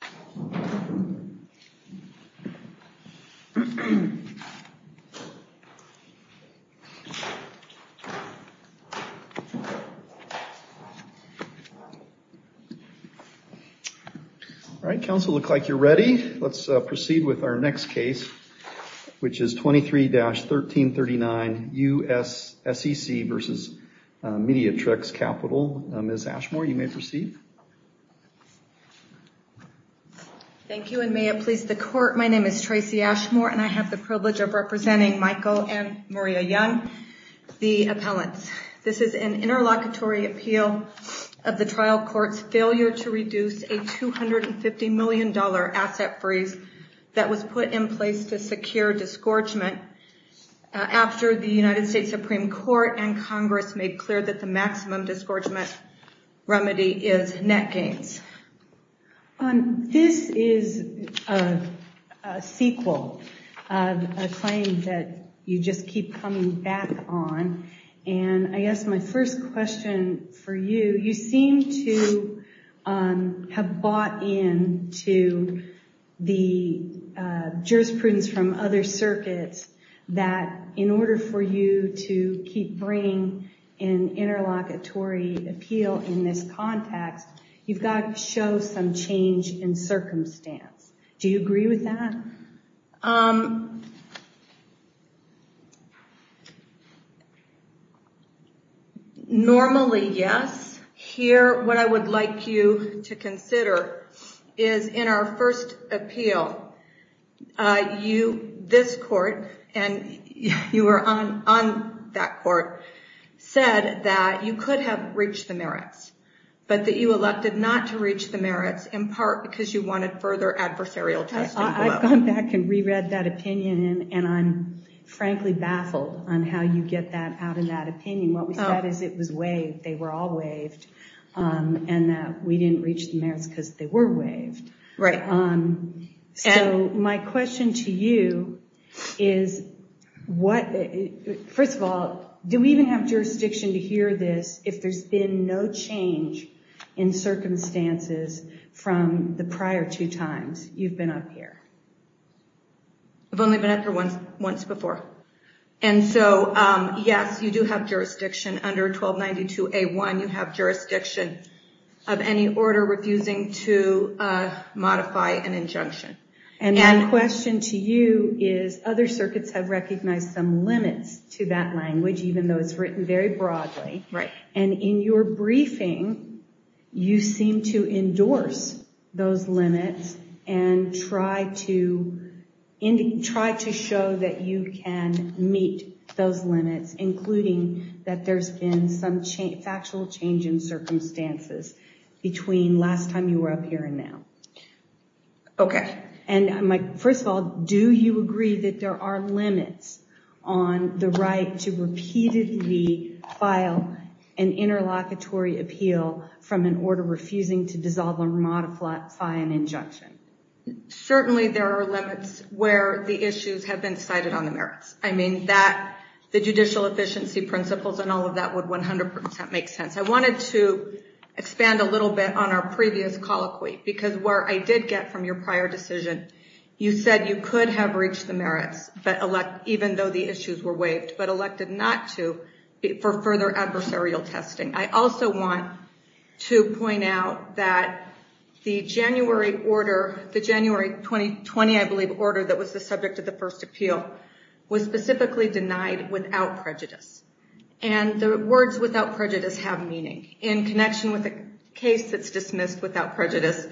Ms. Ashmore, you may proceed. All right, counsel. It looks like you're ready. Let's proceed with our next case, which is 23-1339 USSEC v. Mediatrix Capital. Ms. Ashmore, you may proceed. Thank you, and may it please the Court. My name is Tracy Ashmore, and I have the privilege of representing Michael and Maria Young, the appellants. This is an interlocutory appeal of the trial court's failure to reduce a $250 million asset freeze that was put in place to secure remedy is net gains. This is a sequel of a claim that you just keep coming back on, and I guess my first question for you, you seem to have bought into the jurisprudence from other circuits that in order for you to keep bringing an interlocutory appeal in this context, you've got to show some change in circumstance. Do you agree with that? Normally, yes. Here, what I would like you to consider is in our first appeal, this court, and you were on that court, said that you could have reached the merits, but that you elected not to reach the merits in part because you wanted further adversarial testing below. I've gone back and re-read that opinion, and I'm frankly baffled on how you get that out of that opinion. What we said is it was waived, they were all waived, and that we didn't reach the merits because they were waived. Right. So my question to you is, first of all, do we even have jurisdiction to hear this if there's been no change in circumstances from the prior two times you've been up here? I've only been up here once before. And so, yes, you do have jurisdiction under 1292A1. You have jurisdiction of any order refusing to modify an injunction. And my question to you is other circuits have recognized some limits to that language, even though it's written very broadly. Right. And in your briefing, you seem to endorse those limits and try to show that you can meet those limits, including that there's been some factual change in circumstances between last time you were up here and now. Okay. And first of all, do you agree that there are limits on the right to repeatedly file an interlocutory appeal from an order refusing to dissolve or modify an injunction? Certainly there are limits where the issues have been cited on the merits. I mean, the judicial efficiency principles and all of that would 100% make sense. I wanted to expand a little bit on our previous colloquy, because where I did get from your prior decision, you said you could have reached the merits, even though the issues were waived, but elected not to for further adversarial testing. I also want to point out that the January order, the January 2020, I believe, order that was the subject of the first appeal, was specifically denied without prejudice. And the words without prejudice have meaning. In connection with a case that's dismissed without prejudice,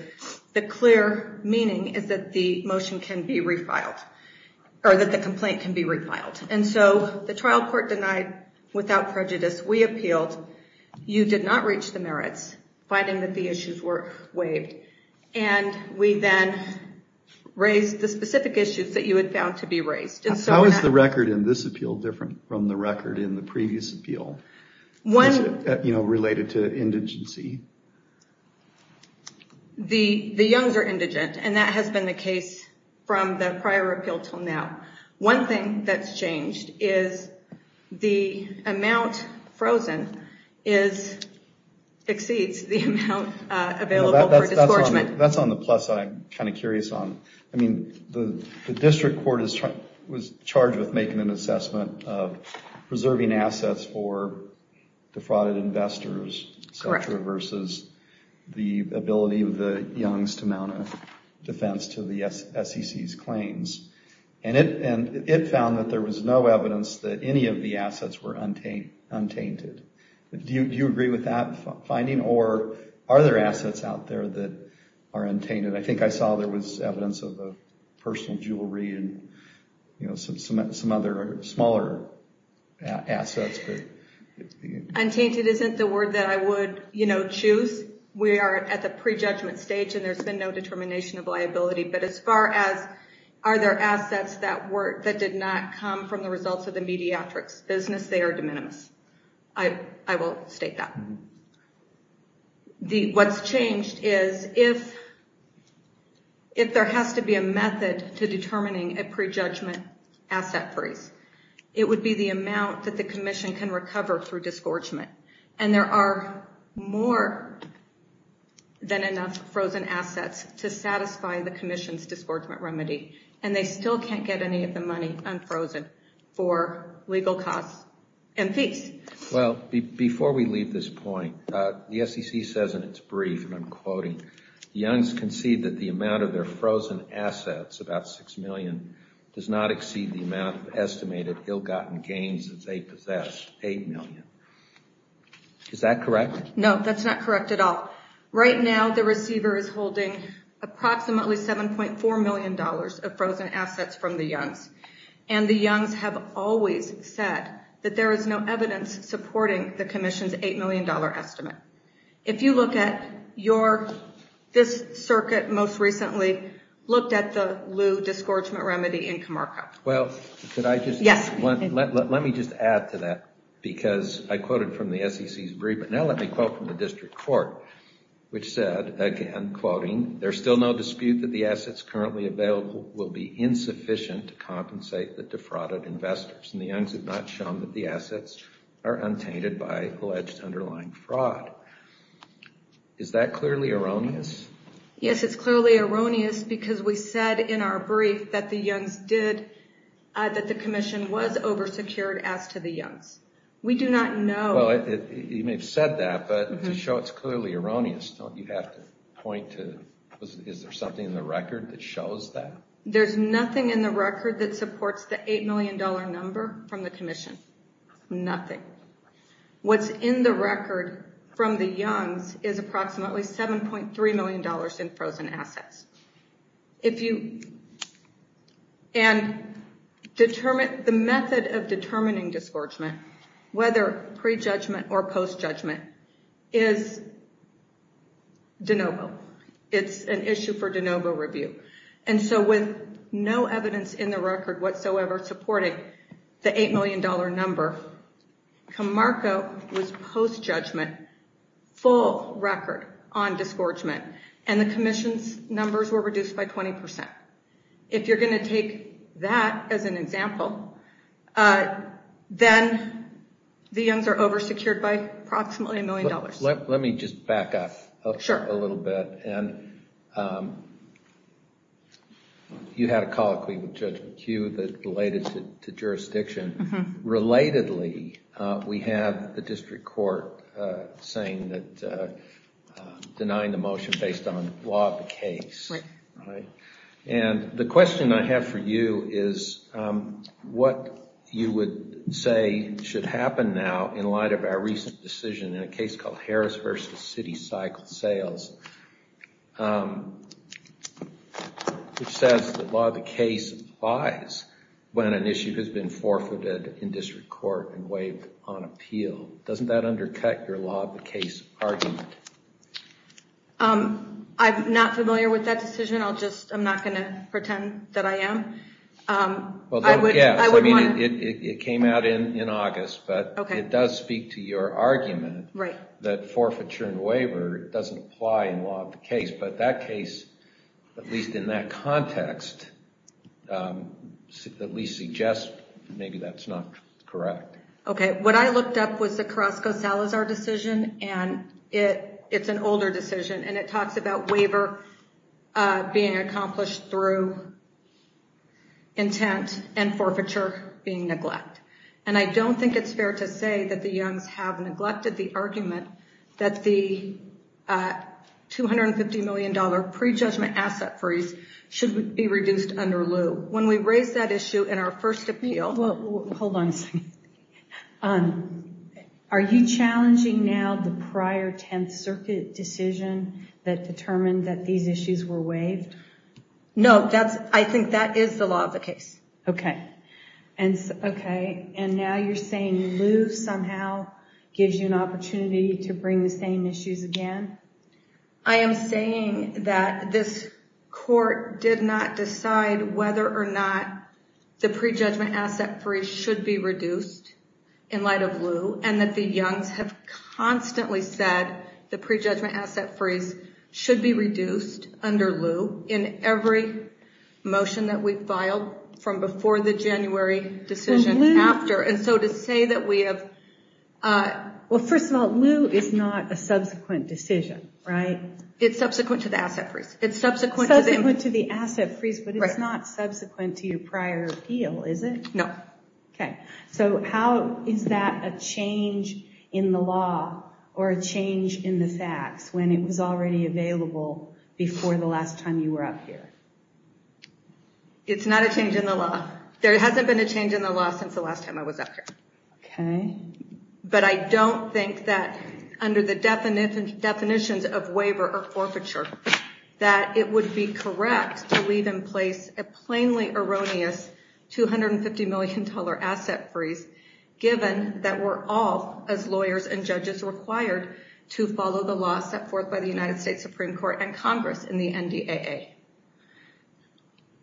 the clear meaning is that the motion can be refiled, or that the complaint can be And so the trial court denied without prejudice. We appealed. You did not reach the merits, finding that the issues were waived. And we then raised the specific issues that you had found to be raised. How is the record in this appeal different from the record in the previous appeal? Was it related to indigency? The Youngs are indigent, and that has been the case from the prior appeal until now. One thing that's changed is the amount frozen exceeds the amount available for disgorgement. That's on the plus side. I'm kind of curious. The district court was charged with making an assessment of preserving assets for defrauded investors versus the ability of the Youngs to mount a defense to the SEC's claims. And it found that there was no evidence that any of the assets were untainted. Do you agree with that finding? Or are there assets out there that are untainted? I think I saw there was evidence of personal jewelry and some other smaller assets. Untainted isn't the word that I would choose. We are at the prejudgment stage, and there's been no determination of liability. But as far as are there assets that did not come from the results of the mediatrix business, they are de minimis. I will state that. What's changed is if there has to be a method to determining a prejudgment asset freeze, it would be the amount that the commission can recover through disgorgement. And there are more than enough frozen assets to satisfy the commission's disgorgement remedy, and they still can't get any of the money unfrozen for legal costs and fees. Well, before we leave this point, the SEC says in its brief, and I'm quoting, Youngs concede that the amount of their frozen assets, about $6 million, does not exceed the amount of estimated ill-gotten gains that they possess, $8 million. Is that correct? No, that's not correct at all. Right now the receiver is holding approximately $7.4 million of frozen assets from the Youngs. And the Youngs have always said that there is no evidence supporting the commission's $8 million estimate. If you look at your, this circuit most recently looked at the lieu disgorgement remedy in Comarco. Well, let me just add to that, because I quoted from the SEC's brief, but now let me quote from the district court, which said, again, quoting, there's still no dispute that the assets currently available will be insufficient to compensate the defrauded investors. And the Youngs have not shown that the assets are untainted by alleged underlying fraud. Is that clearly erroneous? Yes, it's clearly erroneous because we said in our brief that the Youngs did, that the commission was over-secured as to the Youngs. We do not know. Well, you may have said that, but to show it's clearly erroneous, don't you have to point to, is there something in the record that shows that? There's nothing in the record that supports the $8 million number from the commission. Nothing. What's in the record from the Youngs is approximately $7.3 million in frozen assets. And the method of determining disgorgement, whether pre-judgment or post-judgment, is de novo. It's an issue for de novo review. And so with no evidence in the record whatsoever supporting the $8 million number, Camargo was post-judgment, full record on disgorgement. And the commission's numbers were reduced by 20%. If you're going to take that as an example, then the Youngs are over-secured by approximately $1 million. Let me just back up a little bit. And you had a colloquy with Judge McHugh that related to jurisdiction. Relatedly, we have the district court denying the motion based on law of the case. And the question I have for you is what you would say should happen now in light of our recent decision in a case called Harris v. City Cycle Sales, which says that law of the case applies when an issue has been forfeited in district court and waived on appeal. Doesn't that undercut your law of the case argument? I'm not familiar with that decision. I'm not going to pretend that I am. It came out in August, but it does speak to your argument that forfeiture and waiver doesn't apply in law of the case. But that case, at least in that context, at least suggests maybe that's not correct. What I looked up was the Carrasco-Salazar decision. It's an older decision, and it talks about waiver being accomplished through intent and forfeiture being neglect. And I don't think it's fair to say that the Youngs have neglected the argument that the $250 million pre-judgment asset freeze should be reduced under lieu. When we raised that issue in our first appeal— Hold on a second. Are you challenging now the prior Tenth Circuit decision that determined that these issues were waived? No, I think that is the law of the case. Okay. And now you're saying lieu somehow gives you an opportunity to bring the same issues again? I am saying that this court did not decide whether or not the pre-judgment asset freeze should be reduced in light of lieu, and that the Youngs have constantly said the pre-judgment asset freeze should be reduced under lieu in every motion that we filed from before the January decision after. Well, first of all, lieu is not a subsequent decision, right? It's subsequent to the asset freeze. It's subsequent to the asset freeze, but it's not subsequent to your prior appeal, is it? No. Okay. So how is that a change in the law or a change in the facts when it was already available before the last time you were up here? It's not a change in the law. There hasn't been a change in the law since the last time I was up here. But I don't think that, under the definitions of waiver or forfeiture, that it would be correct to leave in place a plainly erroneous $250 million asset freeze, given that we're all, as lawyers and judges, required to follow the law set forth by the United States Supreme Court and Congress in the NDAA.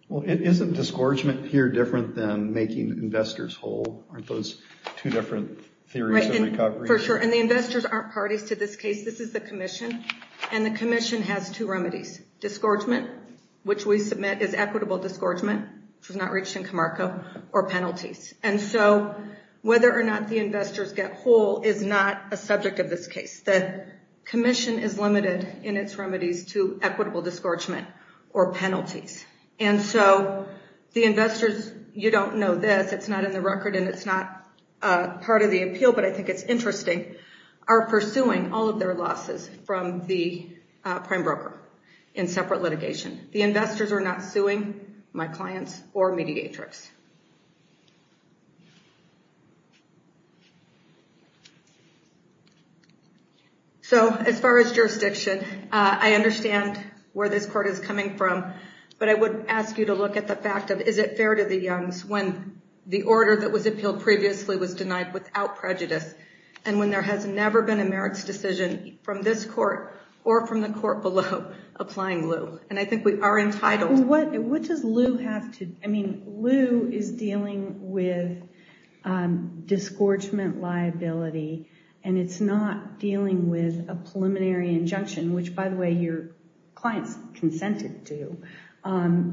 Well, isn't disgorgement here different than making investors whole? Aren't those two different theories of recovery? Right. For sure. And the investors aren't parties to this case. This is the commission, and the commission has two remedies. Disgorgement, which we submit as equitable disgorgement, which was not reached in Camargo, or penalties. And so whether or not the investors get whole is not a subject of this case. The commission is limited in its remedies to equitable disgorgement or penalties. And so the investors, you don't know this, it's not in the record and it's not part of the appeal, but I think it's interesting, are pursuing all of their losses from the prime broker in separate litigation. The investors are not suing my clients or Mediatrix. So as far as jurisdiction, I understand where this court is coming from, but I would ask you to look at the fact of, is it fair to the youngs when the order that was appealed previously was denied without prejudice, and when there has never been a merits decision from this court or from the court below applying lieu? And I think we are entitled. What does lieu have to, I mean, lieu is dealing with disgorgement liability, and it's not dealing with a preliminary injunction, which, by the way, your clients consented to,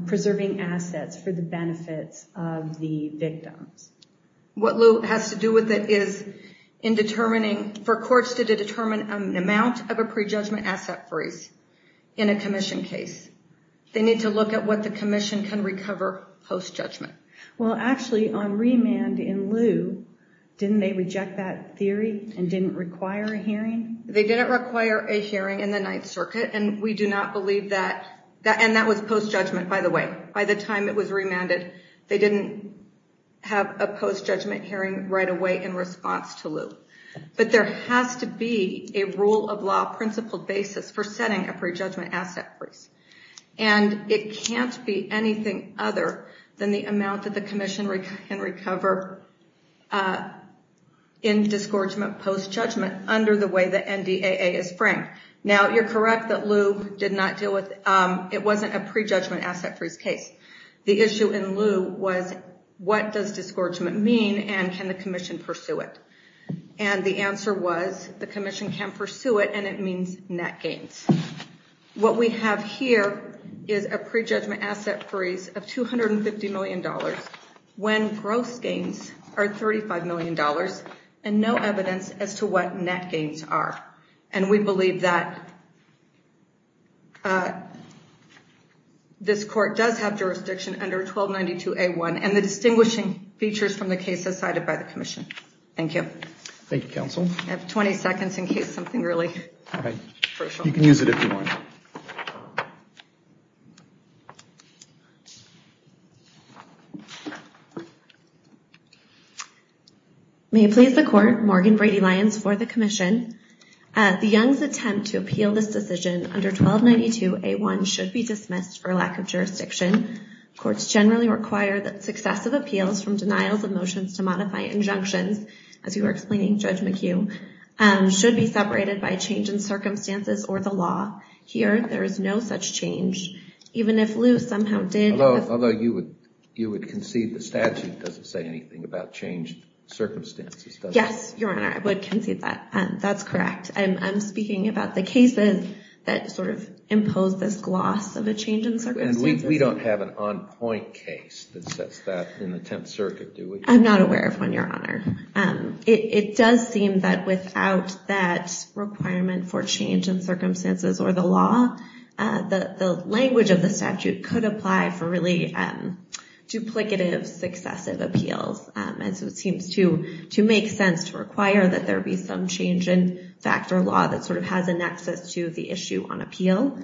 preserving assets for the benefits of the victims. What lieu has to do with it is in determining, for courts to determine an amount of a prejudgment asset freeze in a commission case. They need to look at what the commission can recover post-judgment. Well, actually, on remand in lieu, didn't they reject that theory and didn't require a hearing? They didn't require a hearing in the Ninth Circuit, and we do not believe that, and that was post-judgment, by the way. By the time it was remanded, they didn't have a post-judgment hearing right away in response to lieu. But there has to be a rule-of-law principled basis for setting a prejudgment asset freeze, and it can't be anything other than the amount that the commission can recover in disgorgement post-judgment under the way the NDAA is framed. Now, you're correct that lieu did not deal with, it wasn't a prejudgment asset freeze case. The issue in lieu was, what does disgorgement mean, and can the commission pursue it? And the answer was, the commission can pursue it, and it means net gains. What we have here is a prejudgment asset freeze of $250 million when gross gains are $35 million and no evidence as to what net gains are. And we believe that this court does have jurisdiction under 1292A1 and the distinguishing features from the cases cited by the commission. Thank you. Thank you, counsel. I have 20 seconds in case something really crucial. You can use it if you want. May it please the court, Morgan Brady-Lyons for the commission. The Young's attempt to appeal this decision under 1292A1 should be dismissed for lack of jurisdiction. Courts generally require that successive appeals from denials of motions to modify injunctions, as you were explaining, Judge McHugh, should be separated by change in circumstances or the law. Here, there is no such change, even if lieu somehow did. Although you would concede the statute doesn't say anything about changed circumstances, does it? Yes, Your Honor, I would concede that. That's correct. I'm speaking about the cases that sort of impose this gloss of a change in circumstances. And we don't have an on-point case that sets that in the Tenth Circuit, do we? I'm not aware of one, Your Honor. It does seem that without that requirement for change in circumstances or the law, the language of the statute could apply for really duplicative successive appeals. And so it seems to make sense to require that there be some change in fact or law that sort of has a nexus to the issue on appeal.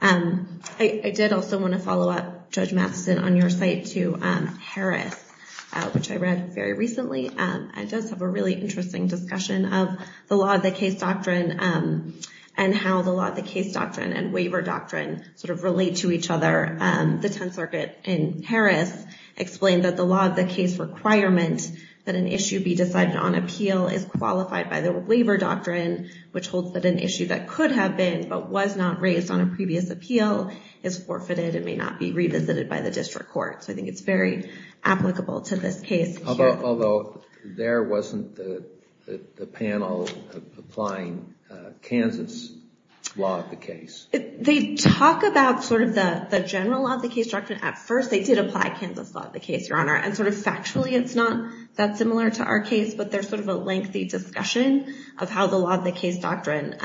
I did also want to follow up, Judge Matheson, on your site to Harris, which I read very recently. It does have a really interesting discussion of the law of the case doctrine and how the law of the case doctrine and waiver doctrine sort of relate to each other. The Tenth Circuit in Harris explained that the law of the case requirement that an issue be decided on appeal is qualified by the waiver doctrine, which holds that an issue that could have been but was not raised on a previous appeal is forfeited and may not be revisited by the district court. So I think it's very applicable to this case. Although there wasn't the panel applying Kansas law of the case. They talk about sort of the general law of the case doctrine at first. They did apply Kansas law of the case, Your Honor. And sort of factually, it's not that similar to our case, but there's sort of a lengthy discussion of how the law of the case doctrine,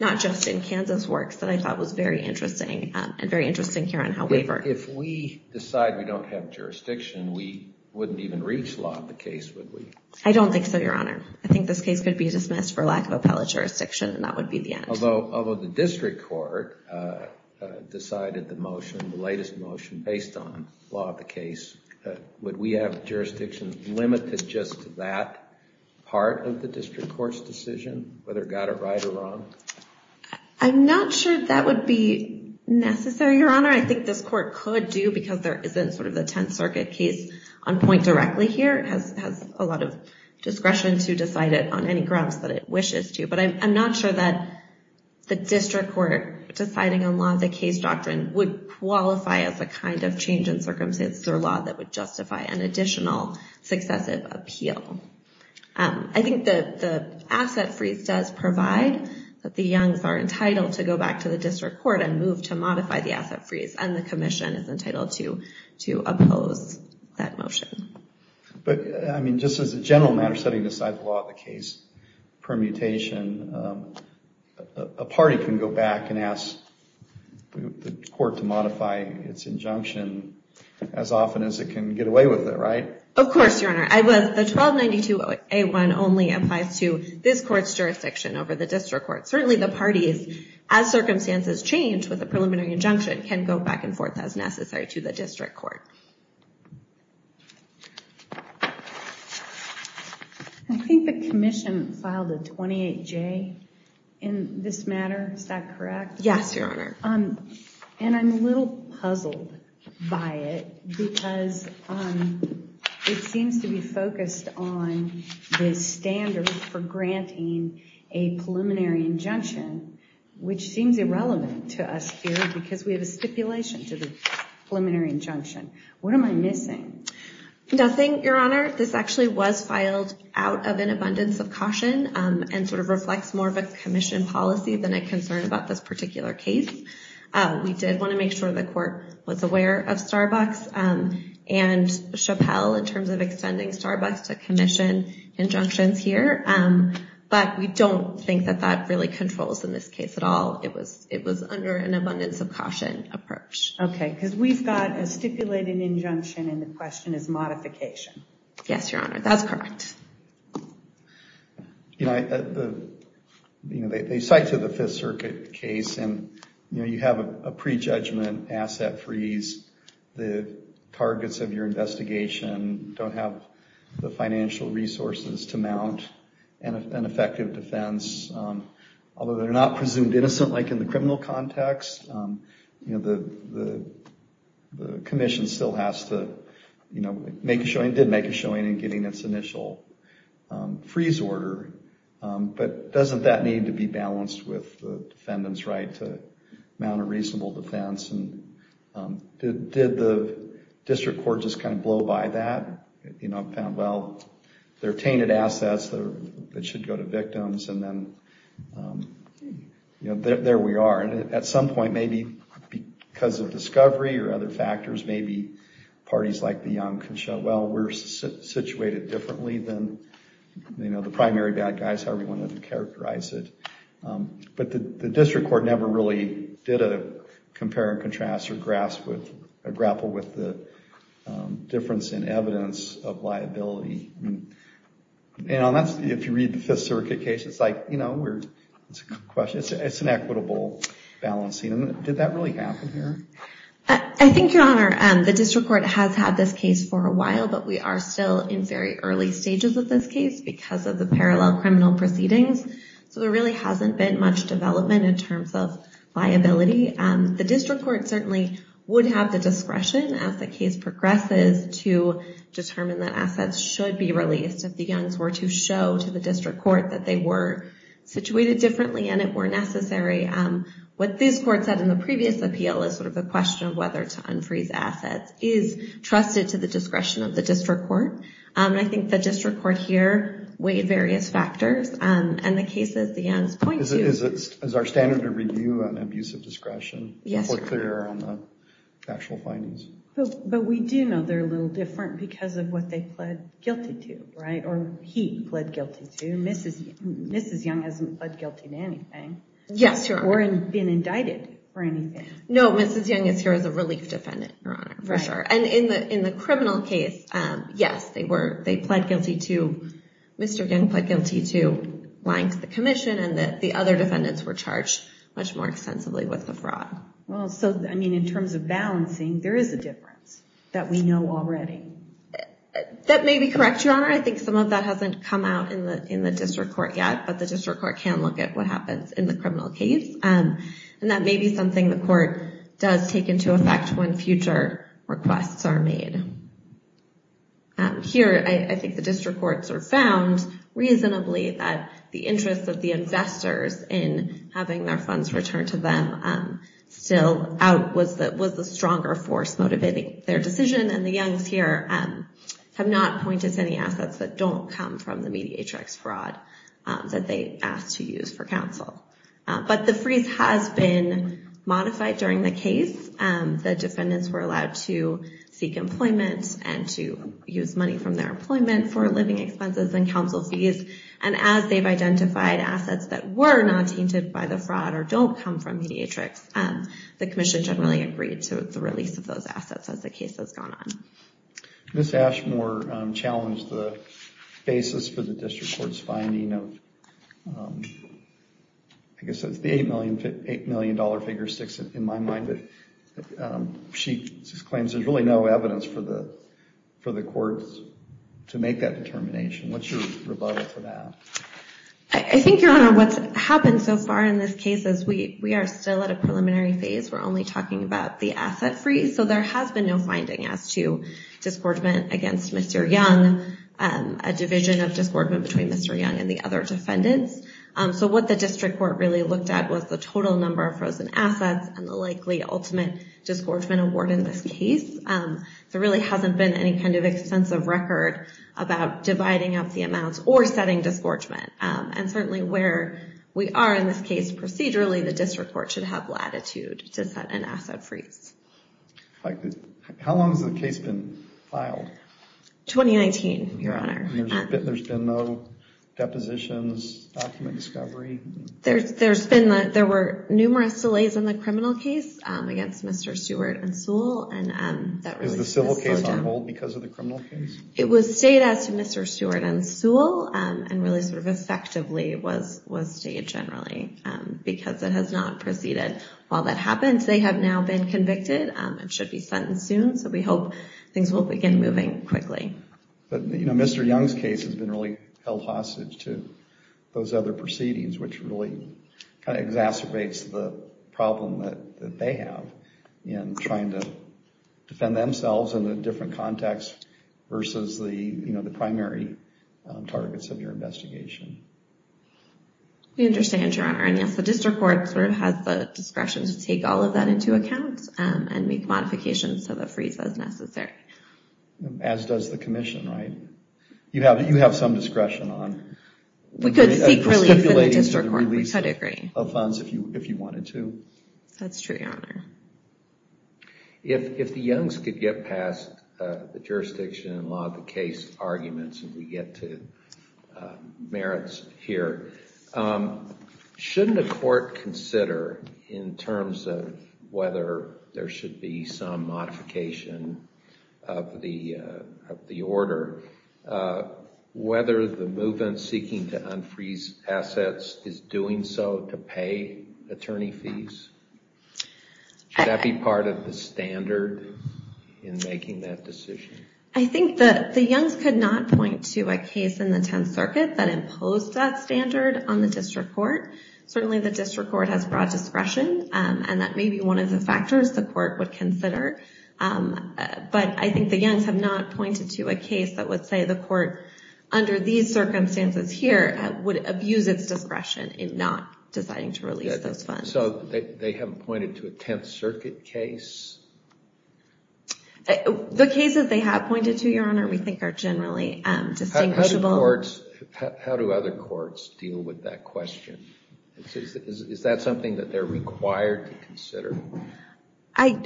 not just in Kansas works, that I thought was very interesting and very interesting here on how waiver. If we decide we don't have jurisdiction, we wouldn't even reach law of the case, would we? I don't think so, Your Honor. I think this case could be dismissed for lack of appellate jurisdiction, and that would be the end. Although the district court decided the motion, the latest motion based on law of the case, would we have jurisdiction limited just to that part of the district court's decision, whether got it right or wrong? I'm not sure that would be necessary, Your Honor. I think this court could do, because there isn't sort of the Tenth Circuit case on point directly here. It has a lot of discretion to decide it on any grounds that it wishes to. But I'm not sure that the district court deciding on law of the case doctrine would qualify as a kind of change in circumstances or law that would justify an additional successive appeal. I think the asset freeze does provide that the Youngs are entitled to go back to the district court and move to modify the asset freeze, and the commission is entitled to oppose that motion. But, I mean, just as a general matter, setting aside the law of the case permutation, a party can go back and ask the court to modify its injunction as often as it can get away with it, right? Of course, Your Honor. The 1292A1 only applies to this court's jurisdiction over the district court. Certainly the parties, as circumstances change with a preliminary injunction, can go back and forth as necessary to the district court. I think the commission filed a 28J in this matter. Is that correct? Yes, Your Honor. And I'm a little puzzled by it, because it seems to be focused on the standard for granting a preliminary injunction, which seems irrelevant to us here because we have a stipulation to the preliminary injunction. What am I missing? Nothing, Your Honor. This actually was filed out of an abundance of caution and sort of reflects more of a commission policy than a concern about this particular case. We did want to make sure the court was aware of Starbucks and Chappelle in terms of extending Starbucks to commission injunctions here, but we don't think that that really controls in this case at all. It was under an abundance of caution approach. Okay, because we've got a stipulated injunction and the question is modification. Yes, Your Honor. That's correct. They cite to the Fifth Circuit case, and you have a prejudgment asset freeze. The targets of your investigation don't have the financial resources to mount an effective defense, although they're not presumed innocent like in the criminal context. The commission still has to make a showing, did make a showing in getting its initial freeze order, but doesn't that need to be balanced with the defendant's right to mount a reasonable defense and did the district court just kind of blow by that? Well, they're tainted assets that should go to victims and then, you know, there we are. And at some point, maybe because of discovery or other factors, maybe parties like the Young can show, well, we're situated differently than, you know, the primary bad guys, however you want to characterize it. But the district court never really did a compare and contrast or grapple with the difference in evidence of liability. And if you read the Fifth Circuit case, it's like, you know, it's an equitable balancing. Did that really happen here? I think, Your Honor, the district court has had this case for a while, but we are still in very early stages of this case because of the parallel criminal proceedings. So there really hasn't been much development in terms of liability. The district court certainly would have the discretion as the case progresses to determine that assets should be released if the Youngs were to show to the district court that they were situated differently and it were necessary. What this court said in the previous appeal is sort of a question of whether to unfreeze assets is trusted to the discretion of the district court. And I think the district court here weighed various factors, and the case, as the Youngs point to... Is our standard of review an abuse of discretion? But we do know they're a little different because of what they pled guilty to, right, or he pled guilty to. And Mrs. Young hasn't pled guilty to anything or been indicted for anything. No, Mrs. Young is here as a relief defendant, Your Honor, for sure. And in the criminal case, yes, Mr. Young pled guilty to lying to the commission and the other defendants were charged much more extensively with the fraud. Well, so, I mean, in terms of balancing, there is a difference that we know already. That may be correct, Your Honor. I think some of that hasn't come out in the district court yet, but the district court can look at what happens in the criminal case. And that may be something the court does take into effect when future requests are made. Here, I think the district courts have found reasonably that the interest of the investors in having their funds returned to them still out was the stronger force motivating their decision. And the Youngs here have not pointed to any assets that don't come from the Mediatrix fraud that they asked to use for counsel. But the freeze has been modified during the case. The defendants were allowed to seek employment and to use money from their employment for living expenses and counsel fees. And as they've identified assets that were not tainted by the fraud or don't come from Mediatrix, the commission generally agreed to the release of those assets as the case has gone on. Ms. Ashmore challenged the basis for the district court's finding of, I guess it's the $8 million figure six in my mind, but she claims there's really no evidence for the courts to make that determination. What's your rebuttal for that? I think, Your Honor, what's happened so far in this case is we are still at a preliminary phase. We're only talking about the asset freeze. So there has been no finding as to disgorgement against Mr. Young, a division of disgorgement between Mr. Young and the other defendants. So what the district court really looked at was the total number of frozen assets and the likely ultimate disgorgement award in this case. There really hasn't been any kind of extensive record about dividing up the amounts or setting disgorgement. And certainly where we are in this case procedurally, the district court should have latitude to set an asset freeze. How long has the case been filed? 2019, Your Honor. There's been no depositions, document discovery? There were numerous delays in the criminal case against Mr. Stewart and Sewell. Is the civil case on hold because of the criminal case? It was stayed as Mr. Stewart and Sewell and really sort of effectively was stayed generally because it has not proceeded. While that happens, they have now been convicted and should be sentenced soon. So we hope things will begin moving quickly. But, you know, Mr. Young's case has been really held hostage to those other proceedings, which really exacerbates the problem that they have in trying to defend themselves in a different context versus the other defendants. Versus the, you know, the primary targets of your investigation. We understand, Your Honor. And yes, the district court sort of has the discretion to take all of that into account and make modifications to the freeze as necessary. As does the commission, right? You have some discretion on it. We could seek relief in the district court. We could agree. Of funds if you if you wanted to. That's true, Your Honor. If the Young's could get past the jurisdiction and a lot of the case arguments and we get to merits here, shouldn't the court consider in terms of whether there should be some modification of the order? Whether the movement seeking to unfreeze assets is doing so to pay attorney fees? Should that be part of the standard in making that decision? I think that the Young's could not point to a case in the 10th Circuit that imposed that standard on the district court. Certainly the district court has broad discretion and that may be one of the factors the court would consider. But I think the Young's have not pointed to a case that would say the court, under these circumstances here, would abuse its discretion in not deciding to release those funds. So they haven't pointed to a 10th Circuit case? The cases they have pointed to, Your Honor, we think are generally distinguishable. How do other courts deal with that question? Is that something that they're required to consider? I'm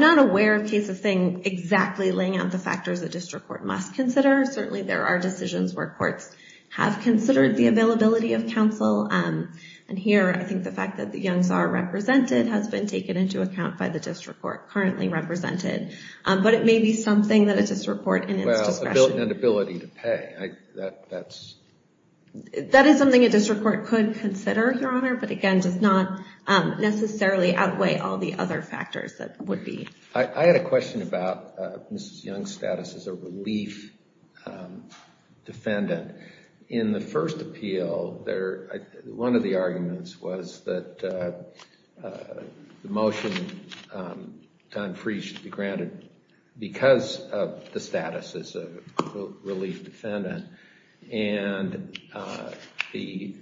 not aware of cases laying out the factors a district court must consider. Certainly there are decisions where courts have considered the availability of counsel. And here, I think the fact that the Young's are represented has been taken into account by the district court currently represented. But it may be something that a district court in its discretion. That is something a district court could consider, Your Honor, but again, does not necessarily outweigh all the other factors that would be. I had a question about Mrs. Young's status as a relief defendant. In the first appeal, one of the arguments was that the motion done free should be granted because of the status as a relief defendant. And the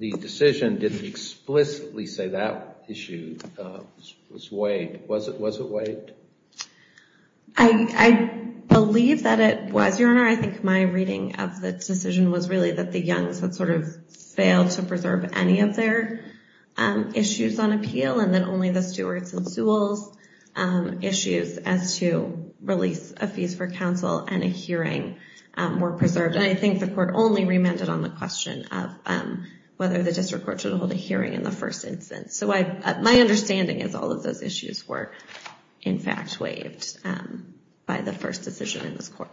decision didn't explicitly say that issue was waived. Was it waived? I believe that it was, Your Honor. I think my reading of the decision was really that the Young's had sort of failed to preserve any of their issues on appeal, and that only the Stewart's and Sewell's issues as to release a fees for counsel and a hearing were preserved. And I think the court only remanded on the question of whether the district court should hold a hearing in the first instance. So my understanding is all of those issues were in fact waived by the first decision in this court.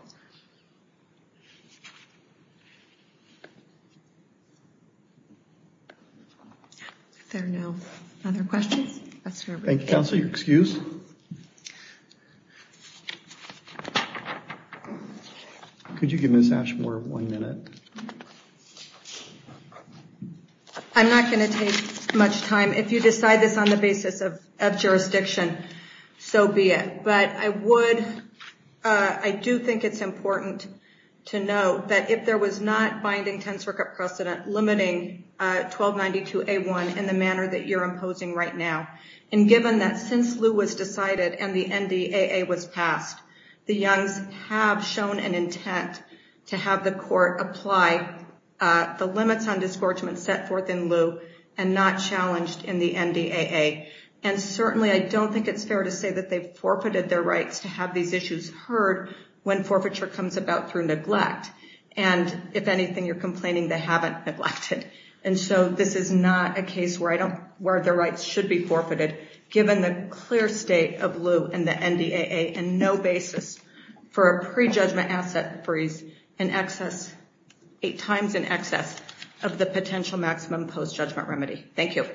If there are no other questions, that's fair. Thank you. Counsel, you're excused. Could you give Ms. Ashmore one minute? I'm not going to take much time. If you decide this on the basis of jurisdiction, so be it. But I do think it's important to note that if there was not binding ten circuit precedent limiting 1292A1 in the manner that you're imposing right now, and given that since the NDAA was passed, the Young's have shown an intent to have the court apply the limits on disgorgement set forth in lieu and not challenged in the NDAA. And certainly, I don't think it's fair to say that they've forfeited their rights to have these issues heard when forfeiture comes about through neglect. And if anything, you're complaining they haven't neglected. And so this is not a case where the rights should be forfeited, given the clear state of lieu and the NDAA and no basis for a pre-judgment asset freeze eight times in excess of the potential maximum post-judgment remedy. Thank you.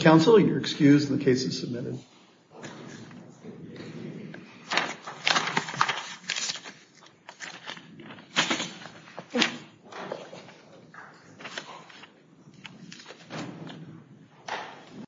Counsel, you're excused. The case is submitted. Thank you.